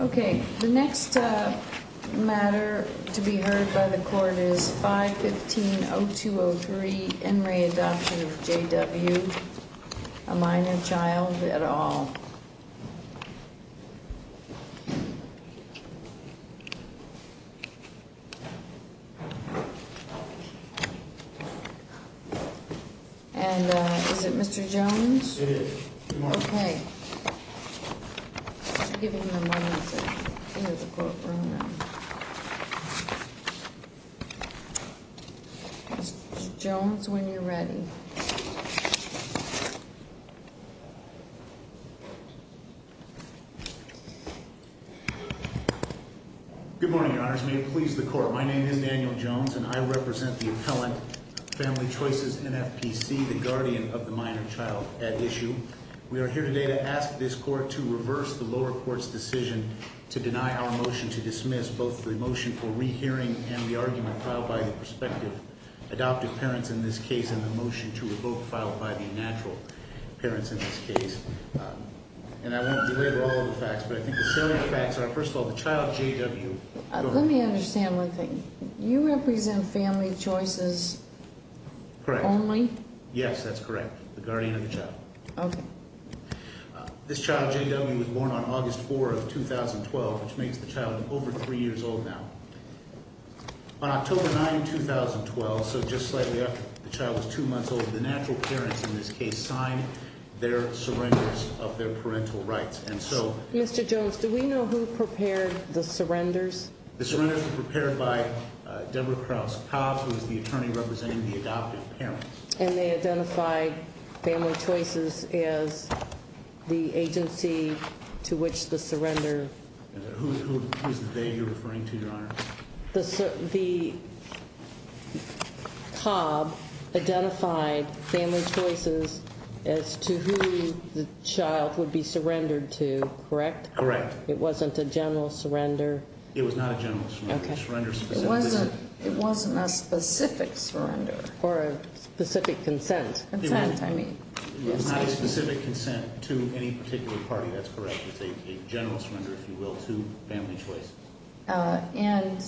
Okay, the next matter to be heard by the court is 515 0203 and re Adoption of J.W. A minor child at all. And is it Mr. Jones? Okay. Jones when you're ready. Good morning. Your Honor's may it please the court. My name is Daniel Jones and I represent the appellant family choices and FPC the guardian of the minor child at issue. We are here today to ask this court to reverse the lower courts decision to deny our motion to dismiss both the motion for rehearing and the argument filed by the perspective adoptive parents in this case in the motion to revoke filed by the natural parents in this case, and I won't be later all the facts, but I think the selling facts are first of all the child J.W. Let me understand one thing you represent family choices. Correct only. Yes, that's correct. The guardian of the child. This child J.W. Was born on August 4 of 2012, which makes the child over three years old now. On October 9, 2012. So just slightly after the child was two months old. The natural parents in this case sign their surrenders of their parental rights. And so Mr. Jones, do we know who prepared the surrenders? The surrenders were prepared by Deborah Krauss-Cobb, who is the attorney representing the adoptive parents. And they identified family choices is the agency to which the surrender. Who is the day you're referring to your honor? The the. Cobb identified family choices as to who the child would be surrendered to. Correct, correct. It wasn't a general surrender. It was not a general surrender. It wasn't a specific surrender. Or a specific consent. Consent, I mean. It was not a specific consent to any particular party. That's correct. It's a general surrender, if you will, to family choices. And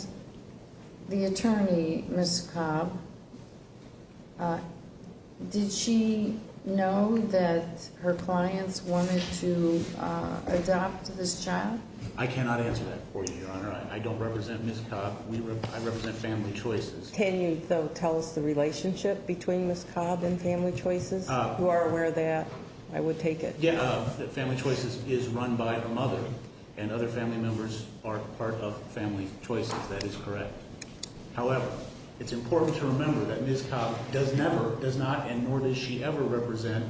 the attorney, Ms. Cobb. Did she know that her clients wanted to adopt this child? I cannot answer that for you, your honor. I don't represent Ms. Cobb. We represent, I represent family choices. Can you tell us the relationship between Ms. Cobb and family choices? Who are aware of that? I would take it. Yeah, family choices is run by a mother and other family members are part of family choices. That is correct. However, it's important to remember that Ms. Cobb does never, does not, and nor does she ever represent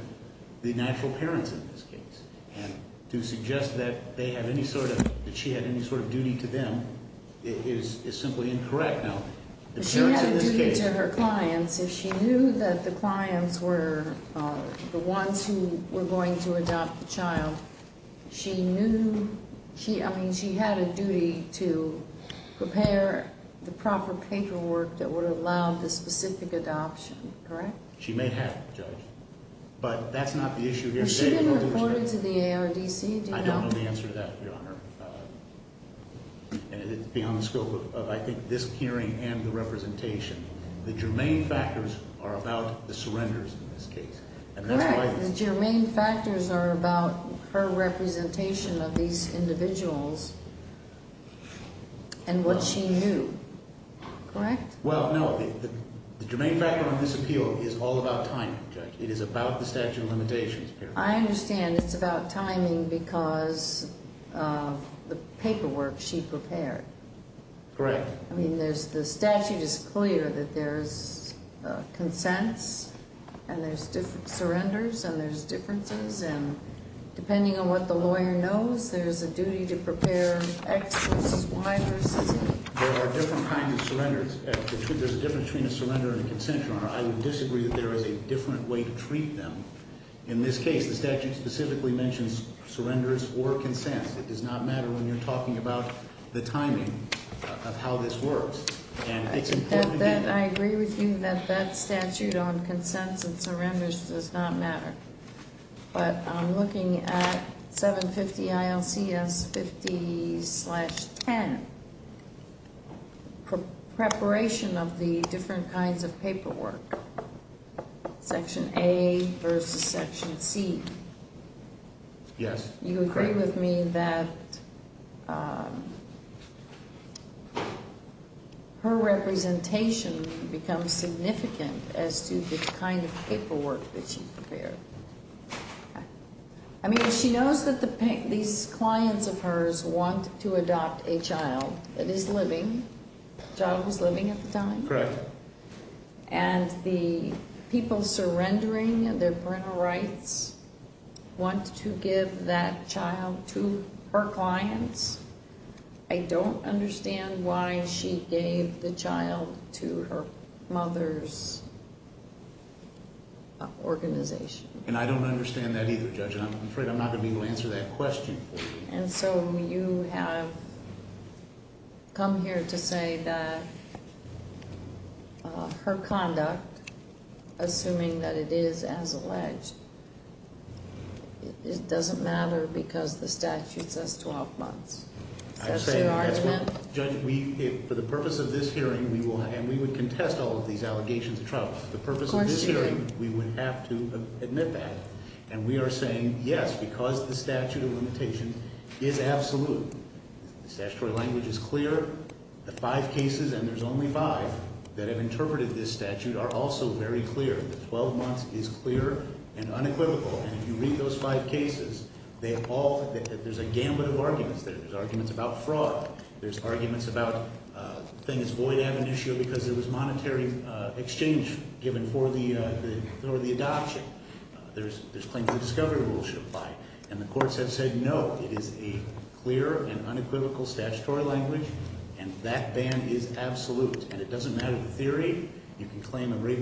the natural parents in this case. And to suggest that they have any sort of, that she had any sort of duty to them is simply incorrect. She had a duty to her clients. If she knew that the clients were the ones who were going to adopt the child, she knew she, I mean, she had a duty to prepare the proper paperwork that would allow the specific adoption, correct? She may have, Judge. But that's not the issue here. Was she reported to the ARDC? I don't know the answer to that, your honor. And it's beyond the scope of, I think, this hearing and the representation. The germane factors are about the surrenders in this case. And that's why... Correct, the germane factors are about her representation of these individuals and what she knew, correct? Well, no, the germane factor on this appeal is all about timing, Judge. It is about the statute of limitations. I understand it's about timing because of the paperwork she prepared. Correct. I mean, there's, the statute is clear that there's consents and there's different surrenders and there's differences. And depending on what the lawyer knows, there's a duty to prepare X versus Y versus Z. There are different kinds of surrenders. There's a difference between a surrender and a consensual, your honor. I would disagree that there is a different way to treat them. In this case, the statute specifically mentions surrenders or consents. It does not matter when you're talking about the timing of how this works. And it's important to be- I agree with you that that statute on consents and surrenders does not matter. But I'm looking at 750 ILCS 50-10, preparation of the different kinds of paperwork, section A versus section C. Yes. You agree with me that her representation becomes significant as to the kind of paperwork that she prepared. I mean, she knows that these clients of hers want to adopt a child that is living, a child who's living at the time. Correct. And the people surrendering their parental rights want to give that child to her clients. I don't understand why she gave the child to her mother's organization. And I don't understand that either, Judge. And I'm afraid I'm not going to be able to answer that question for you. And so you have come here to say that her conduct, assuming that it is as alleged, it doesn't matter because the statute says 12 months. That's your argument? Judge, for the purpose of this hearing, we will, and we would contest all of these allegations of trouble. The purpose of this hearing, we would have to admit that. And we are saying, yes, because the statute of limitations is absolute. The statutory language is clear. The five cases, and there's only five that have interpreted this statute, are also very clear. The 12 months is clear and unequivocal. And if you read those five cases, there's a gambit of arguments there. There's arguments about fraud. There's arguments about the thing is void ad venitio because it was monetary exchange given for the adoption. There's claims of discovery rules should apply. And the courts have said no. It is a clear and unequivocal statutory language. And that ban is absolute. And it doesn't matter the theory. You can claim a writ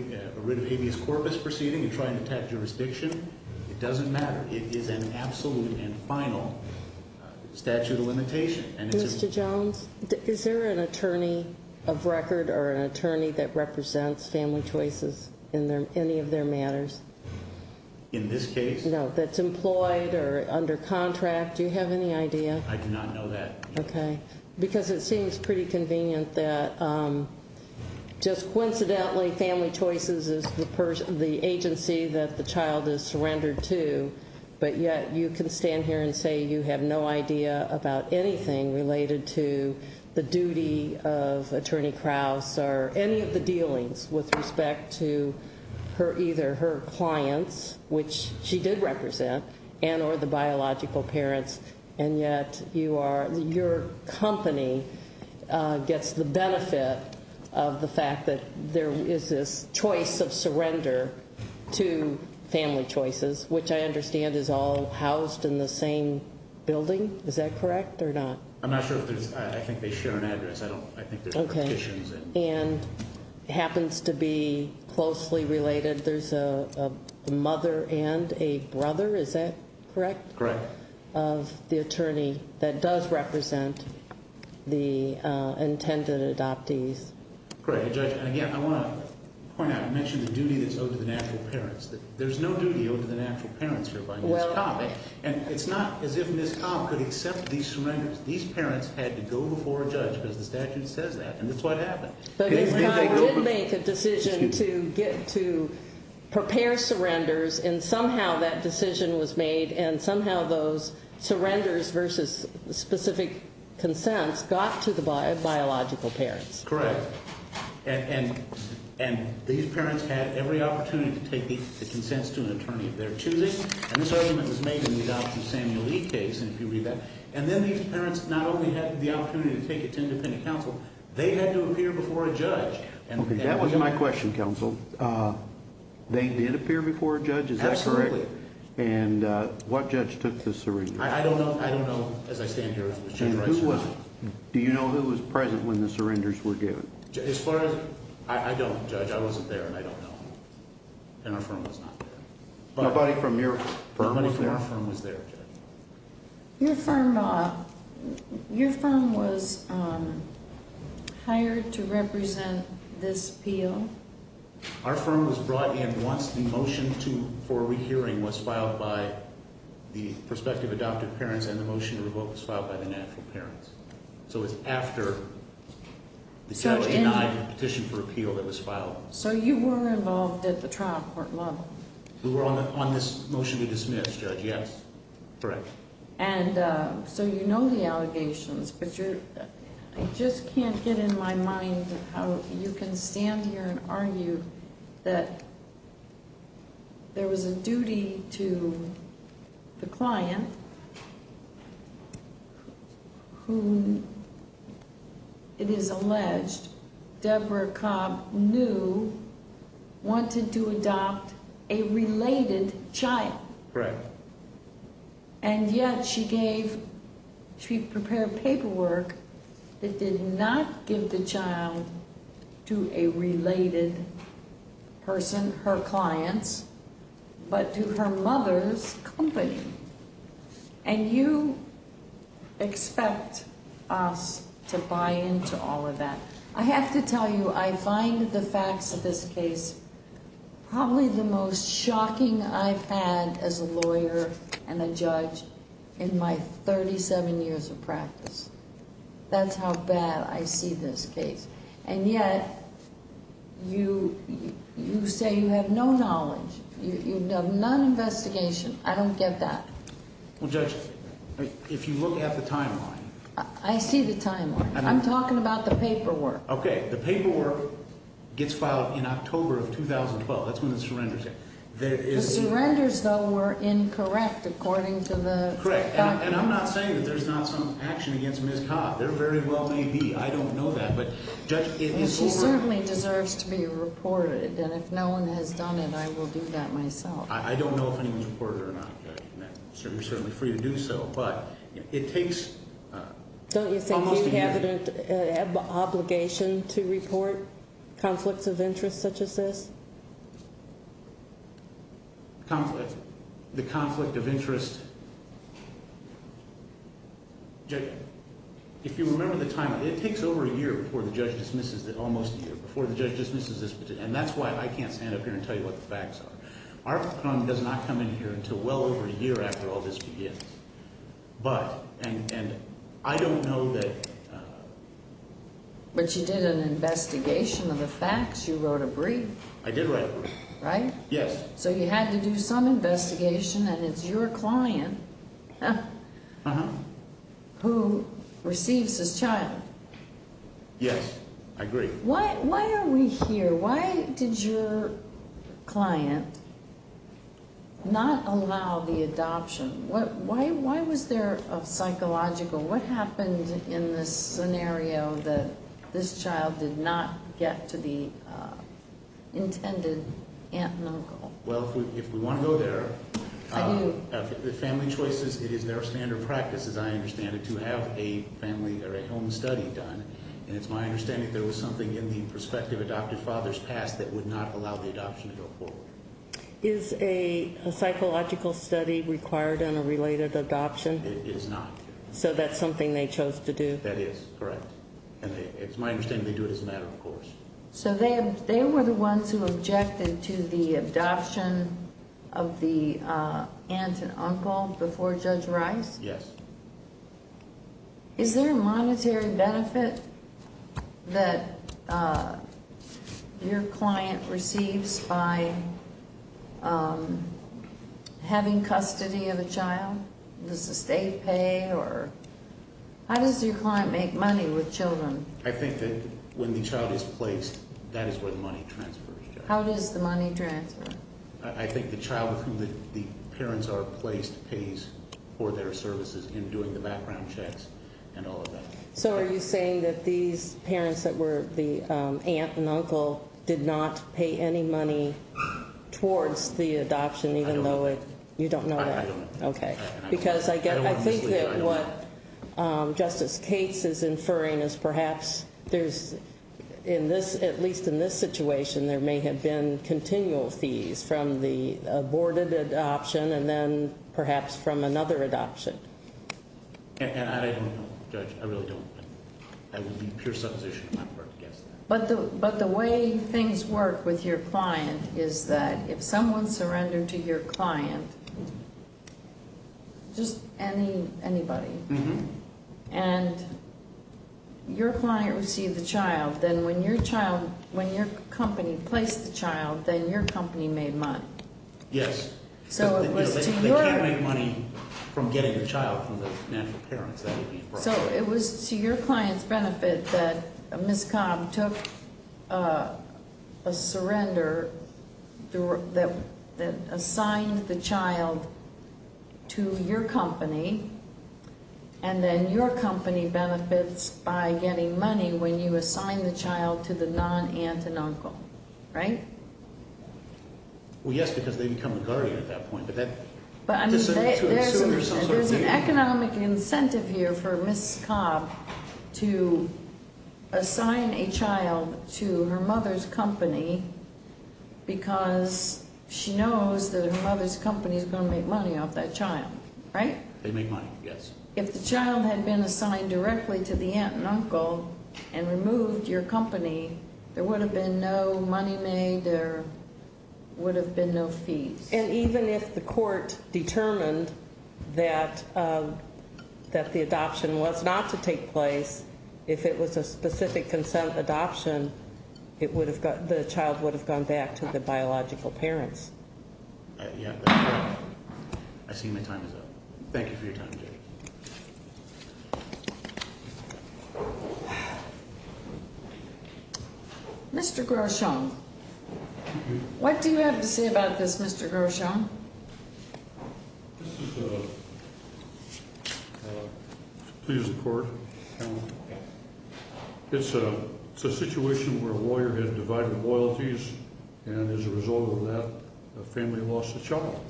of habeas corpus proceeding and try and attack jurisdiction. It doesn't matter. It is an absolute and final statute of limitation. Mr. Jones, is there an attorney of record or an attorney that represents Family Choices in any of their matters? In this case? No, that's employed or under contract. Do you have any idea? I do not know that. Okay. Because it seems pretty convenient that just coincidentally, Family Choices is the agency that the child is surrendered to. But yet, you can stand here and say you have no idea about anything related to the duty of Attorney Krause or any of the dealings with respect to either her clients, which she did represent, and or the biological parents. And yet, your company gets the benefit of the fact that there is this choice of surrender to Family Choices, which I understand is all housed in the same building. Is that correct or not? I'm not sure if there's, I think they share an address. I don't, I think there's partitions. And happens to be closely related. There's a mother and a brother. Is that correct? Correct. Of the attorney that does represent the intended adoptees. Great. Judge, and again, I want to point out and mention the duty that's owed to the natural parents. There's no duty owed to the natural parents here by Ms. Cobb. And it's not as if Ms. Cobb could accept these surrenders. These parents had to go before a judge because the statute says that, and that's what happened. But Ms. Cobb did make a decision to prepare surrenders, and somehow that decision was made. And somehow those surrenders versus specific consents got to the biological parents. Correct. And these parents had every opportunity to take the consents to an attorney of their choosing. And this argument was made in the Dr. Samuel Lee case, and if you read that. And then these parents not only had the opportunity to take it to independent counsel, they had to appear before a judge. Okay, that was my question, counsel. They did appear before a judge, is that correct? Absolutely. And what judge took the surrender? I don't know. I don't know as I stand here as Judge Rice. Do you know who was present when the surrenders were given? As far as, I don't, Judge. I wasn't there, and I don't know. And our firm was not there. Nobody from your firm was there? Nobody from our firm was there, Judge. Your firm was hired to represent this appeal. Our firm was brought in once the motion for a re-hearing was filed by the prospective adopted parents. And the motion to revoke was filed by the natural parents. So it's after the judge denied the petition for appeal that was filed. So you were involved at the trial court level? We were on this motion to dismiss, Judge, yes. Correct. And so you know the allegations, but I just can't get in my mind how you can stand here and Who, it is alleged, Deborah Cobb knew, wanted to adopt a related child. Correct. And yet she gave, she prepared paperwork that did not give the child to a related person, her clients, but to her mother's company. And you expect us to buy into all of that. I have to tell you, I find the facts of this case probably the most shocking I've had as a lawyer and a judge in my 37 years of practice. That's how bad I see this case. And yet, you say you have no knowledge, you have none investigation. I don't get that. Well, Judge, if you look at the timeline. I see the timeline. I'm talking about the paperwork. Okay. The paperwork gets filed in October of 2012. That's when the surrender is. The surrenders, though, were incorrect according to the. Correct. And I'm not saying that there's not some action against Ms. Cobb. There very well may be. I don't know that. But Judge, it is over. She certainly deserves to be reported. And if no one has done it, I will do that myself. I don't know if anyone's reported or not, Judge, and you're certainly free to do so. But it takes almost a year. Don't you think you have an obligation to report conflicts of interest such as this? Conflict? The conflict of interest. Judge, if you remember the timeline, it takes over a year before the judge dismisses it. Almost a year before the judge dismisses this. And that's why I can't stand up here and tell you what the facts are. Our crime does not come in here until well over a year after all this begins. But, and I don't know that. But you did an investigation of the facts. You wrote a brief. I did write a brief. Right? Yes. So you had to do some investigation, and it's your client who receives this child. Yes. I agree. Why are we here? Why did your client not allow the adoption? Why was there a psychological? What happened in this scenario that this child did not get to the intended aunt and uncle? Well, if we want to go there, I do. Family choices, it is their standard practice, as I understand it, to have a family or a home study done. And it's my understanding there was something in the prospective adoptive father's past that would not allow the adoption to go forward. Is a psychological study required in a related adoption? It is not. So that's something they chose to do? That is, correct. And it's my understanding they do it as a matter of course. So they were the ones who objected to the adoption of the aunt and uncle before Judge Rice? Yes. Is there a monetary benefit that your client receives by having custody of a child? Does the state pay? How does your client make money with children? I think that when the child is placed, that is where the money transfers to. How does the money transfer? I think the child with whom the parents are placed pays for their services in doing the background checks and all of that. So are you saying that these parents that were the aunt and uncle did not pay any money towards the adoption even though it... I don't know. You don't know that? I don't know. Okay. Because I think that what Justice Cates is inferring is perhaps there's, at least in this situation, there may have been continual fees from the aborted adoption and then perhaps from another adoption. And I don't know, Judge. I really don't. I would be pure supposition on my part to guess that. But the way things work with your client is that if someone surrendered to your client, just anybody, and your client received the child, then when your child, when your company placed the child, then your company made money. Yes. So it was to your- They can't make money from getting a child from the natural parents. So it was to your client's benefit that Ms. Cobb took a surrender that assigned the child to your company and then your company benefits by getting money when you assign the child to the non-aunt and uncle. Right? Well, yes, because they become a guardian at that point. But I mean, there's an economic incentive here for Ms. Cobb to assign a child to her mother's company because she knows that her mother's company is going to make money off that child. Right? They make money, yes. If the child had been assigned directly to the aunt and uncle and removed your company, there would have been no money made, there would have been no fees. And even if the court determined that the adoption was not to take place, if it was a specific consent adoption, the child would have gone back to the biological parents. Yeah. I see my time is up. Thank you for your time, Judy. Mr. Groschon, what do you have to say about this, Mr. Groschon? Please report. It's a situation where a lawyer has divided loyalties and as a result of that, a family lost a child.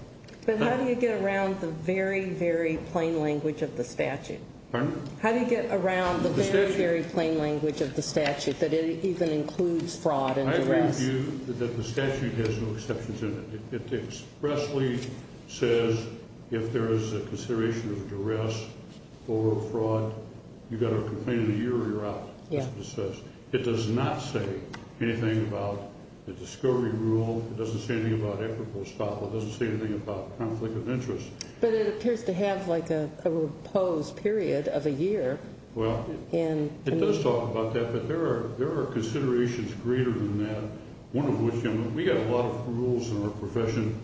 But how do you get around the very, very plain language of the statute? Pardon? How do you get around the very, very plain language of the statute that it even includes fraud and duress? I would argue that the statute has no exceptions in it. It expressly says if there is a consideration of duress or fraud, you've got a complaint in a year or you're out. That's what it says. It does not say anything about the discovery rule. It doesn't say anything about equitable estoppel. It doesn't say anything about conflict of interest. But it appears to have like a proposed period of a year. Well, it does talk about that, but there are considerations greater than that. One of which, we have a lot of rules in our profession.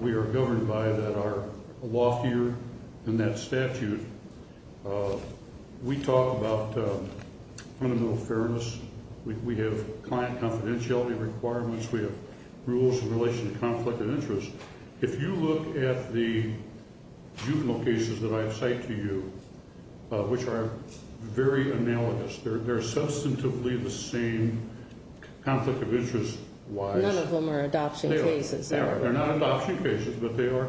We are governed by that, our law here and that statute. We talk about fundamental fairness. We have client confidentiality requirements. We have rules in relation to conflict of interest. If you look at the juvenile cases that I have cited to you, which are very analogous. They're substantively the same conflict of interest wise. None of them are adoption cases. They are. They're not adoption cases, but they are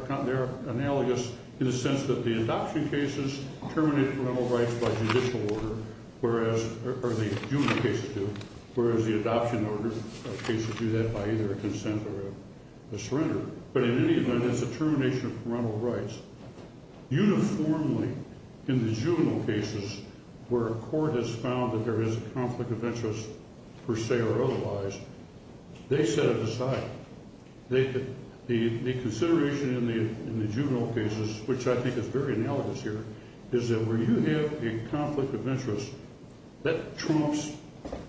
analogous in the sense that the adoption cases terminate parental rights by judicial order, or the juvenile cases do. Whereas the adoption cases do that by either a consent or a surrender. But in any event, it's a termination of parental rights. Uniformly, in the juvenile cases where a court has found that there is a conflict of interest per se or otherwise, they set it aside. The consideration in the juvenile cases, which I think is very analogous here, is that where you have a conflict of interest, that trumps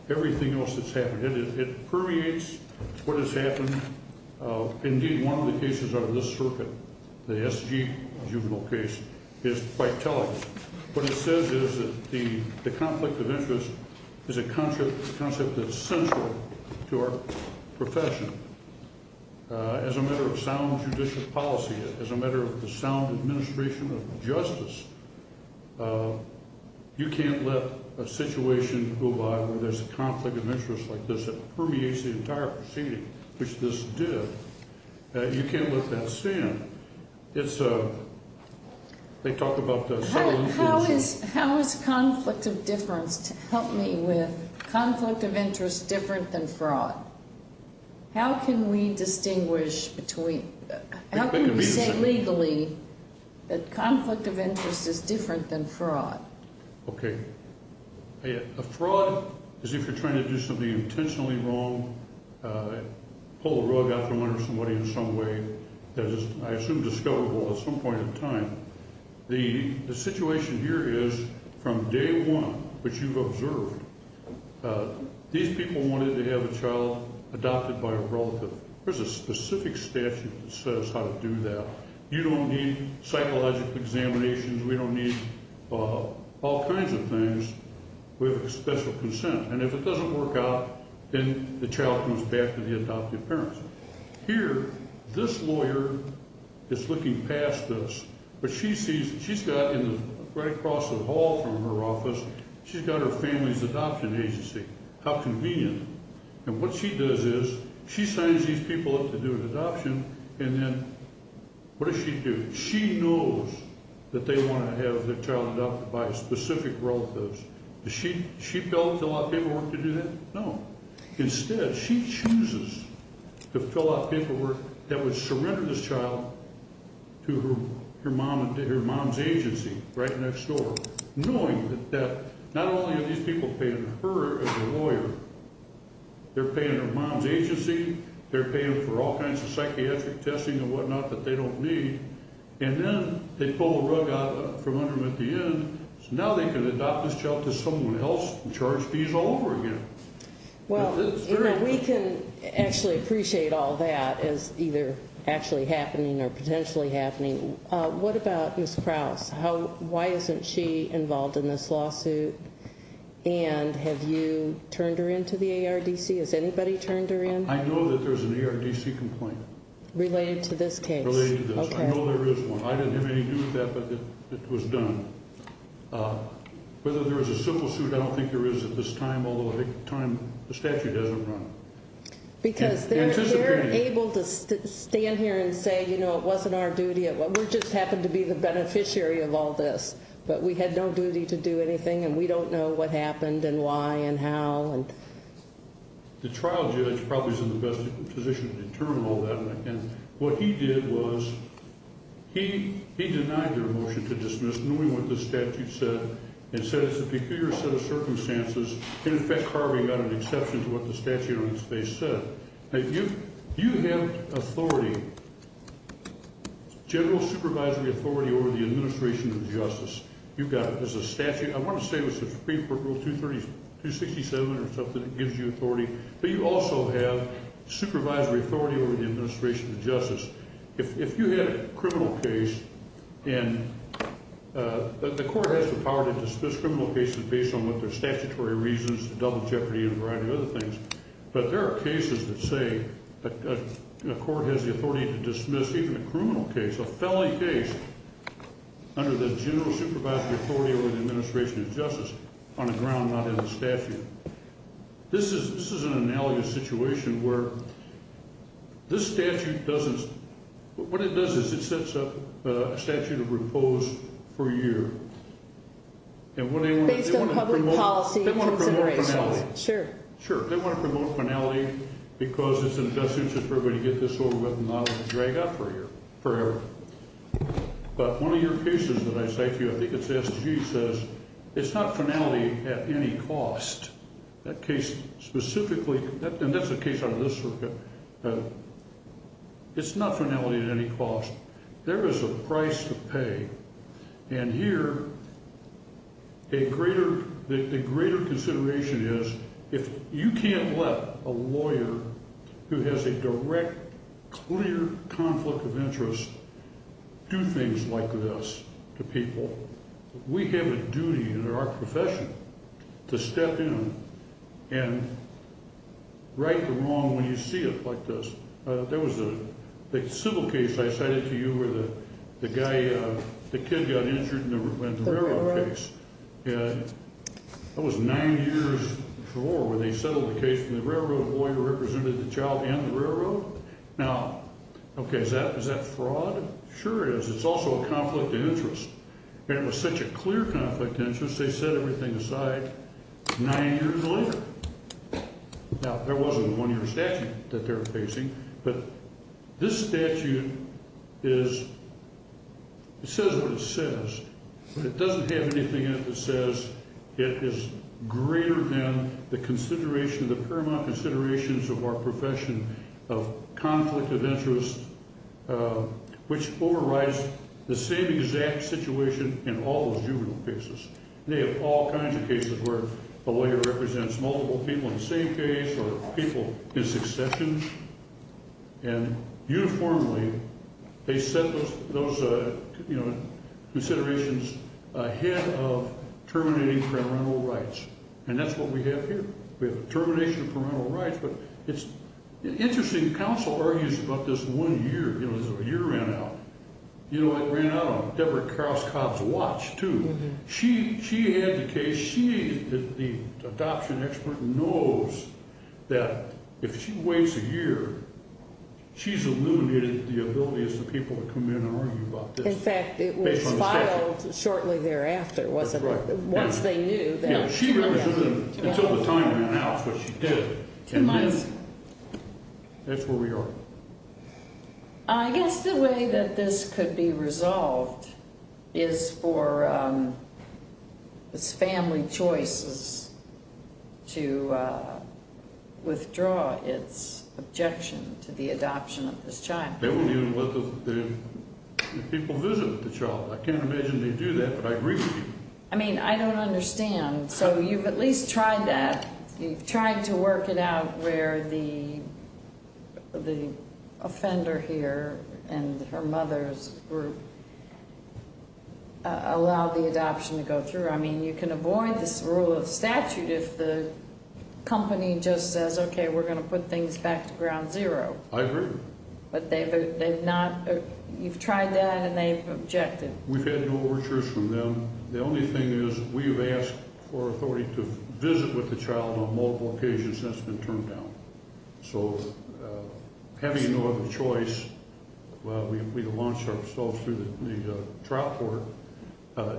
everything else that's happened. It permeates what has happened. Indeed, one of the cases out of this circuit, the SG juvenile case, is quite telling. What it says is that the conflict of interest is a concept that's central to our profession. As a matter of sound judicial policy, as a matter of the sound administration of justice, you can't let a situation go by where there's a conflict of interest like this that permeates the entire proceeding, which this did. You can't let that stand. It's a... They talk about the... How is conflict of difference, help me with, conflict of interest different than fraud? How can we distinguish between... How can we say legally that conflict of interest is different than fraud? Okay. A fraud is if you're trying to do something intentionally wrong, pull the rug out from under somebody in some way, that is, I assume, discoverable at some point in time. The situation here is, from day one, which you've observed, these people wanted to have a child adopted by a relative. There's a specific statute that says how to do that. You don't need psychological examinations. We don't need all kinds of things. We have a special consent. And if it doesn't work out, then the child comes back to the adoptive parents. Here, this lawyer is looking past us, but she sees... She's got, right across the hall from her office, she's got her family's adoption agency. How convenient. And what she does is, she signs these people up to do an adoption, and then, what does she do? She knows that they want to have their child adopted by specific relatives. Does she fill out the paperwork to do that? No. Instead, she chooses to fill out paperwork that would surrender this child to her mom's agency, right next door, knowing that not only are these people paying her as a lawyer, they're paying their mom's agency, they're paying for all kinds of psychiatric testing and whatnot that they don't need, and then, they pull a rug out from under them at the end, so now they can adopt this child to someone else and charge fees all over again. Well, we can actually appreciate all that as either actually happening or potentially happening. What about Ms. Krause? Why isn't she involved in this lawsuit? And have you turned her in to the ARDC? Has anybody turned her in? I know that there's an ARDC complaint. Related to this case? Related to this. I know there is one. I didn't have anything to do with that, but it was done. Whether there's a civil suit, I don't think there is at this time, although I think the statute doesn't run it. Because they're able to stand here and say, you know, it wasn't our duty. We just happened to be the beneficiary of all this, but we had no duty to do anything, and we don't know what happened and why and how. The trial judge probably is in the best position to determine all that, and what he did was, he denied their motion to dismiss, knowing what the statute said, and said it's a peculiar set of circumstances. In effect, Harvey got an exception to what the statute on its face said. You have authority, general supervisory authority over the administration of justice. You've got it. There's a statute, I want to say it was Supreme Court Rule 267 or something, that gives you authority, but you also have supervisory authority over the administration of justice. If you had a criminal case, and the court has the power to dismiss criminal cases based on what their statutory reasons, double jeopardy and a variety of other things, but there are cases that say a court has the authority to dismiss even a criminal case, a felony case, under the general supervisory authority over the administration of justice, on a ground not in the statute. This is an analogous situation where this statute doesn't, what it does is it sets up a statute of repose for a year. Based on public policy considerations. They want to promote finality. Sure. They want to promote finality because it's an adjustment for everybody to get this over with and not have to drag out for a year. Forever. But one of your cases that I cite to you, I think it's S.G. says, it's not finality at any cost. That case specifically, and that's a case out of this circuit, it's not finality at any cost. There is a price to pay. And here, a greater, a greater consideration is, if you can't let a lawyer who has a direct, clear conflict of interest do things like this to people, we have a duty in our profession to step in and right the wrong when you see it like this. There was a civil case I cited to you where the guy, the kid got injured in the railroad case. And that was nine years before where they settled the case and the railroad lawyer represented the child and the railroad. Now, okay, is that fraud? Sure is. It's also a conflict of interest. And it was such a clear conflict of interest they set everything aside nine years later. Now, there was a one-year statute that they were facing, but this statute is, it says what it says, but it doesn't have anything in it that says it is greater than the consideration, the paramount considerations of our profession of conflict of interest which overrides the same exact situation in all those juvenile cases. They have all kinds of cases where a lawyer represents multiple people in the same case or people in succession and uniformly they set those, you know, considerations ahead of terminating parental rights. And that's what we have here. We have a termination of parental rights but it's interesting counsel argues about this one year because a year ran out. You know, it ran out on Deborah Carlisle Cobb's watch, too. She had the case. She, the adoption expert, knows that if she waits a year, she's eliminated the ability of the people to come in and argue about this. In fact, it was filed shortly thereafter. Once they knew. Until the time ran out when she did it. That's where we are. I guess the way that this could be resolved is for this family choices to withdraw its objection to the adoption of this child. If people visit with the child. I can't imagine they do that but I agree with you. I mean, I don't understand. So you've at least tried that. You've tried to work it out where the offender here and her mother's group allowed the adoption to go through. I mean, you can avoid this rule of statute if the company just says, okay, we're going to put things back to ground zero. I agree. But they've not you've tried that and they've objected. We've had no overtures from them. The only thing is, we've asked for authority to visit with the child on multiple occasions. That's been turned down. So having no other choice we've launched ourselves through the trial court.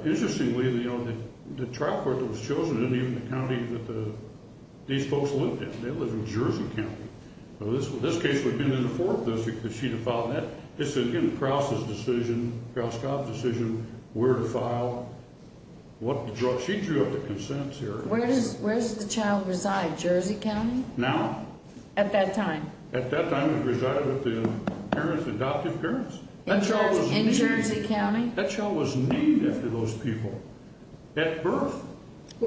Interestingly, the trial court that was chosen in the county that these folks lived in. They live in Jersey County. This case would have been in the 4th district if she'd have filed that. It's in Krause's decision, Krause-Kopp's decision where to file what the drug. She drew up the consents here. Where does the child reside? Jersey County? Now? At that time? At that time it resided with the parents, adoptive parents. In Jersey County? That child was named after those people. At birth?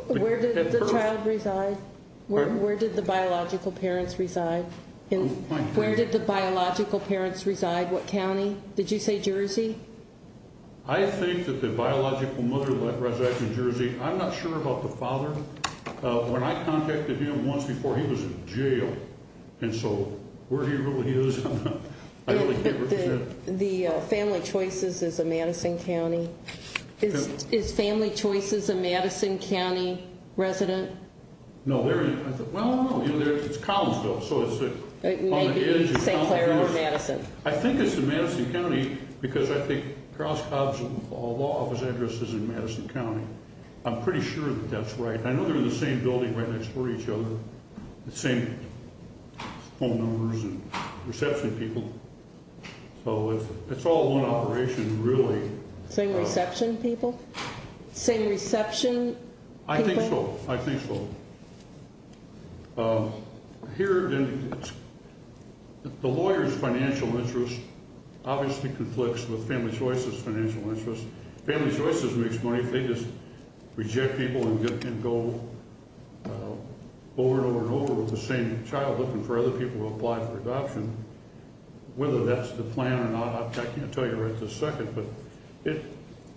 Where did the child reside? Where did the biological parents reside? What county? Did you say Jersey? I think that the biological mother resided in Jersey. I'm not sure about the father. When I contacted him once before, he was in jail. And so where he really is, I really can't represent. The Family Choices is a Madison County. Is Family Choices a Madison County resident? No. Well, I don't know. It's Collinsville. It may be St. Clair or Madison. I think it's in Madison County because I think Krause-Kopp's law office address is in Madison County. I'm pretty sure that that's right. I know they're in the same building right next to each other. The same phone numbers and reception people. So it's all one operation really. Same reception people? Same reception people? I think so. Here the lawyer's financial interest obviously conflicts with Family Choices' financial interest. Family Choices makes money if they just reject people and go over and over and over with the same child looking for other people to apply for adoption. Whether that's the plan or not, I can't tell you right this second. But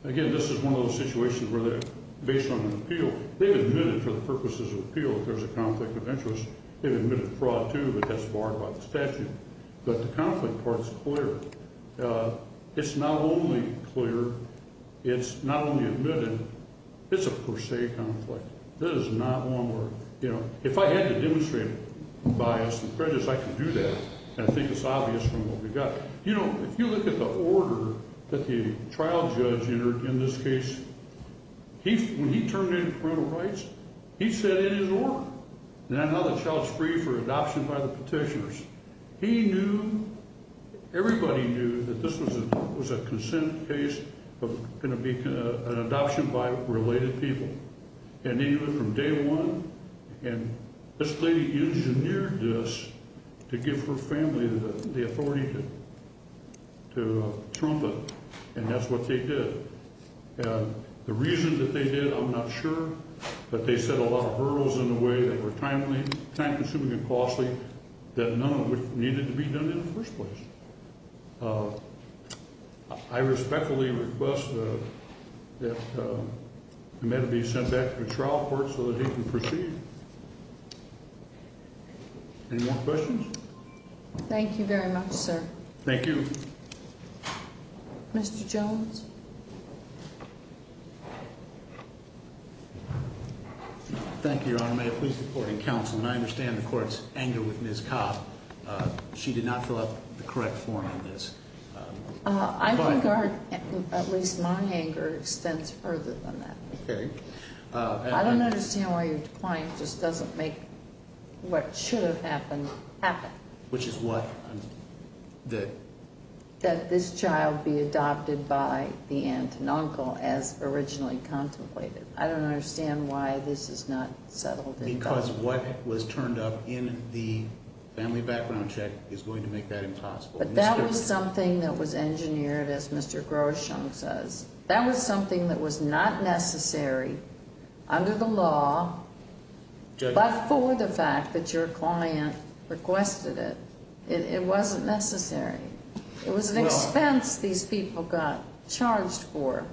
again, this is one of those situations where they're based on an appeal. They've admitted for the purposes of appeal that there's a conflict of interest. They've admitted fraud too, but that's barred by the statute. But the conflict part's clear. It's not only clear, it's not only admitted, it's a per se conflict. This is not one where, you know, if I had to demonstrate bias and prejudice, I could do that. And I think it's obvious from what we've got. You know, if you look at the order that the trial judge entered in this case, when he terminated parental rights, he set in his order on how the child's free for adoption by the petitioners. He knew, everybody knew that this was a consent case of going to be an adoption by related people. And they knew it from day one and this lady engineered this to give her family the authority to trump it. And that's what they did. And the reason that they did, I'm not sure, but they set a lot of hurdles in the way that were time-consuming and costly that none of it needed to be done in the first place. I respectfully request that Ahmed be sent back to the trial court so that he can proceed. Any more questions? Thank you very much, sir. Thank you. Mr. Jones? Thank you, Your Honor. May it please the court and counsel, and I understand the court's anger with Ms. Cobb. She did not fill out the correct form on this. I think our, at least my anger extends further than that. I don't understand why your client just doesn't make what should have happened, happen. Which is what that this child be adopted by the aunt and uncle as originally contemplated. I don't understand why this is not settled. Because what was turned up in the family background check is going to make that impossible. But that was something that was engineered, as Mr. Grosham says. That was something that was not necessary under the law, but for the fact that your client requested it. It wasn't necessary. It was an expense these people got charged for.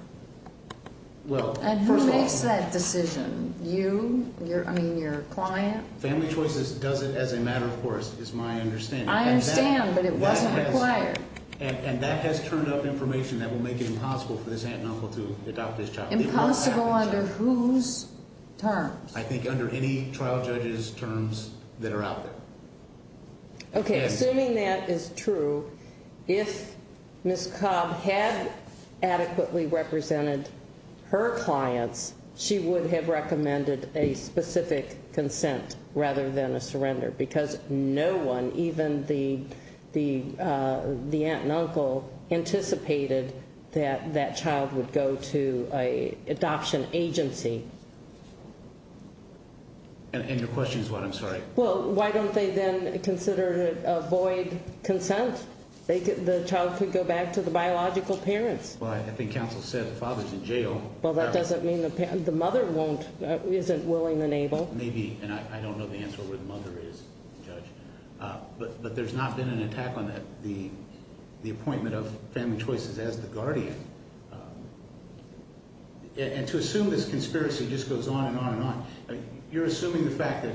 And who makes that decision? You? I mean, your client? Family Choices does it as a matter of course, is my understanding. I understand, but it wasn't required. And that has turned up information that will make it impossible for this aunt and uncle to adopt this child. Impossible under whose terms? I think under any trial judge's terms that are out there. Okay, assuming that is true, if Ms. Cobb had adequately represented her clients, she would have recommended a specific consent rather than a surrender. Because no one, even the aunt and uncle, that child would go to an adoption agency. And your question is what? I'm sorry. Well, why don't they then consider a void consent? The child could go back to the biological parents. Well, I think counsel said the father's in jail. Well, that doesn't mean the mother isn't willing and able. Maybe, and I don't know the answer where the mother is, judge. But there's not been an attack on the appointment of Family Choices as the guardian. And to assume this conspiracy just goes on and on and on, you're assuming the fact that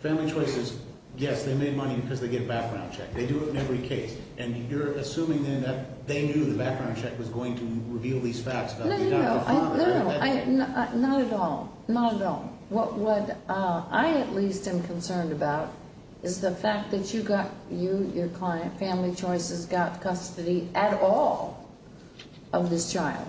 Family Choices, yes, they made money because they get a background check. They do it in every case. And you're assuming then that they knew the background check was going to reveal these facts about the adopted father. No, no, no. Not at all. Not at all. What I at least am concerned about is the fact that you got you, your client, Family Choices got custody at all of this child.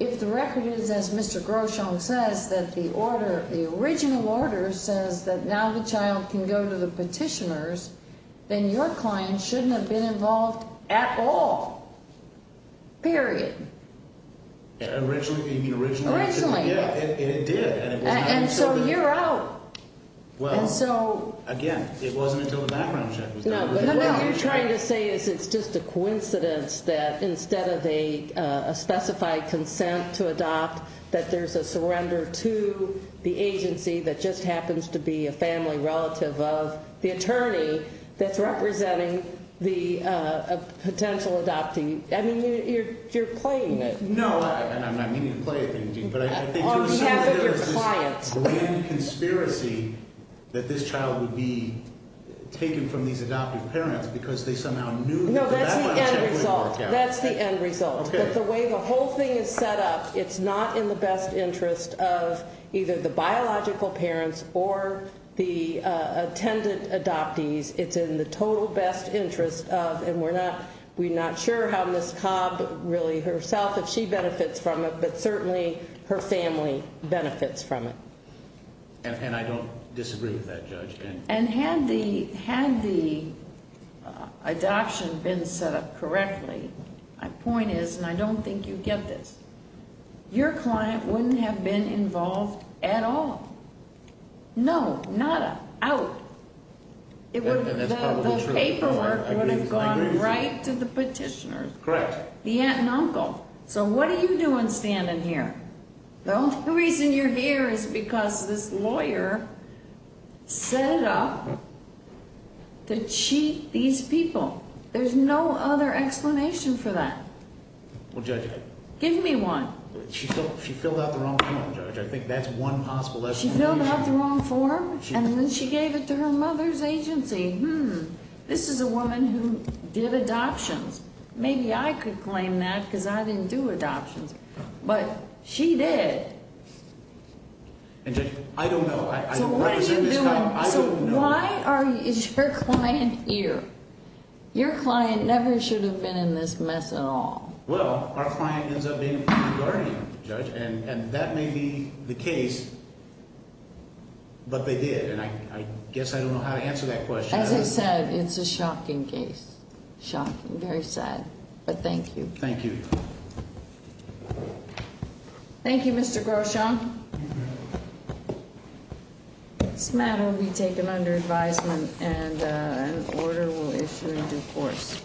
If the record is, as Mr. Groshong says, that the original order says that now the child can go to the petitioners, then your client shouldn't have been involved at all. Period. Originally, you mean originally? Originally. And it did. And so you're out. Again, it wasn't until the background check was done. No, but what you're trying to say is it's just a coincidence that instead of a specified consent to adopt that there's a surrender to the agency that just happens to be a family relative of the attorney that's representing the potential adoptee. I mean, you're playing it. No, and I'm not meaning to play a game, but I think there's this grand conspiracy that this child these adoptive parents because they somehow knew the background check would work out. No, that's the end result. That's the end result. But the way the whole thing is set up, it's not in the best interest of either the biological parents or the attendant adoptees. It's in the total best interest of, and we're not sure how Ms. Cobb really herself, if she benefits from it, but certainly her family benefits from it. And I don't disagree with that, Judge. And had the adoption been set up correctly, my point is, and I don't think you get this, your client wouldn't have been involved at all. No. Nada. Out. The paperwork would have gone right to the petitioner. Correct. The aunt and uncle. So what are you doing standing here? The only reason you're here is because this lawyer set it up to cheat these people. There's no other explanation for that. Give me one. She filled out the wrong form, Judge. I think that's one possible explanation. She filled out the wrong form, and then she gave it to her mother's agency. This is a woman who did adoptions. Maybe I could claim that, because I didn't do adoptions. But she did. I don't know. So why is your client here? Your client never should have been in this mess at all. Well, our client ends up being a guardian, Judge, and that may be the case, but they did, and I guess I don't know how to answer that question. As I said, it's a shocking case. Shocking. Very sad. But thank you. Thank you. Thank you, Mr. Grosham. This matter will be taken under advisement, and an order will issue in due course.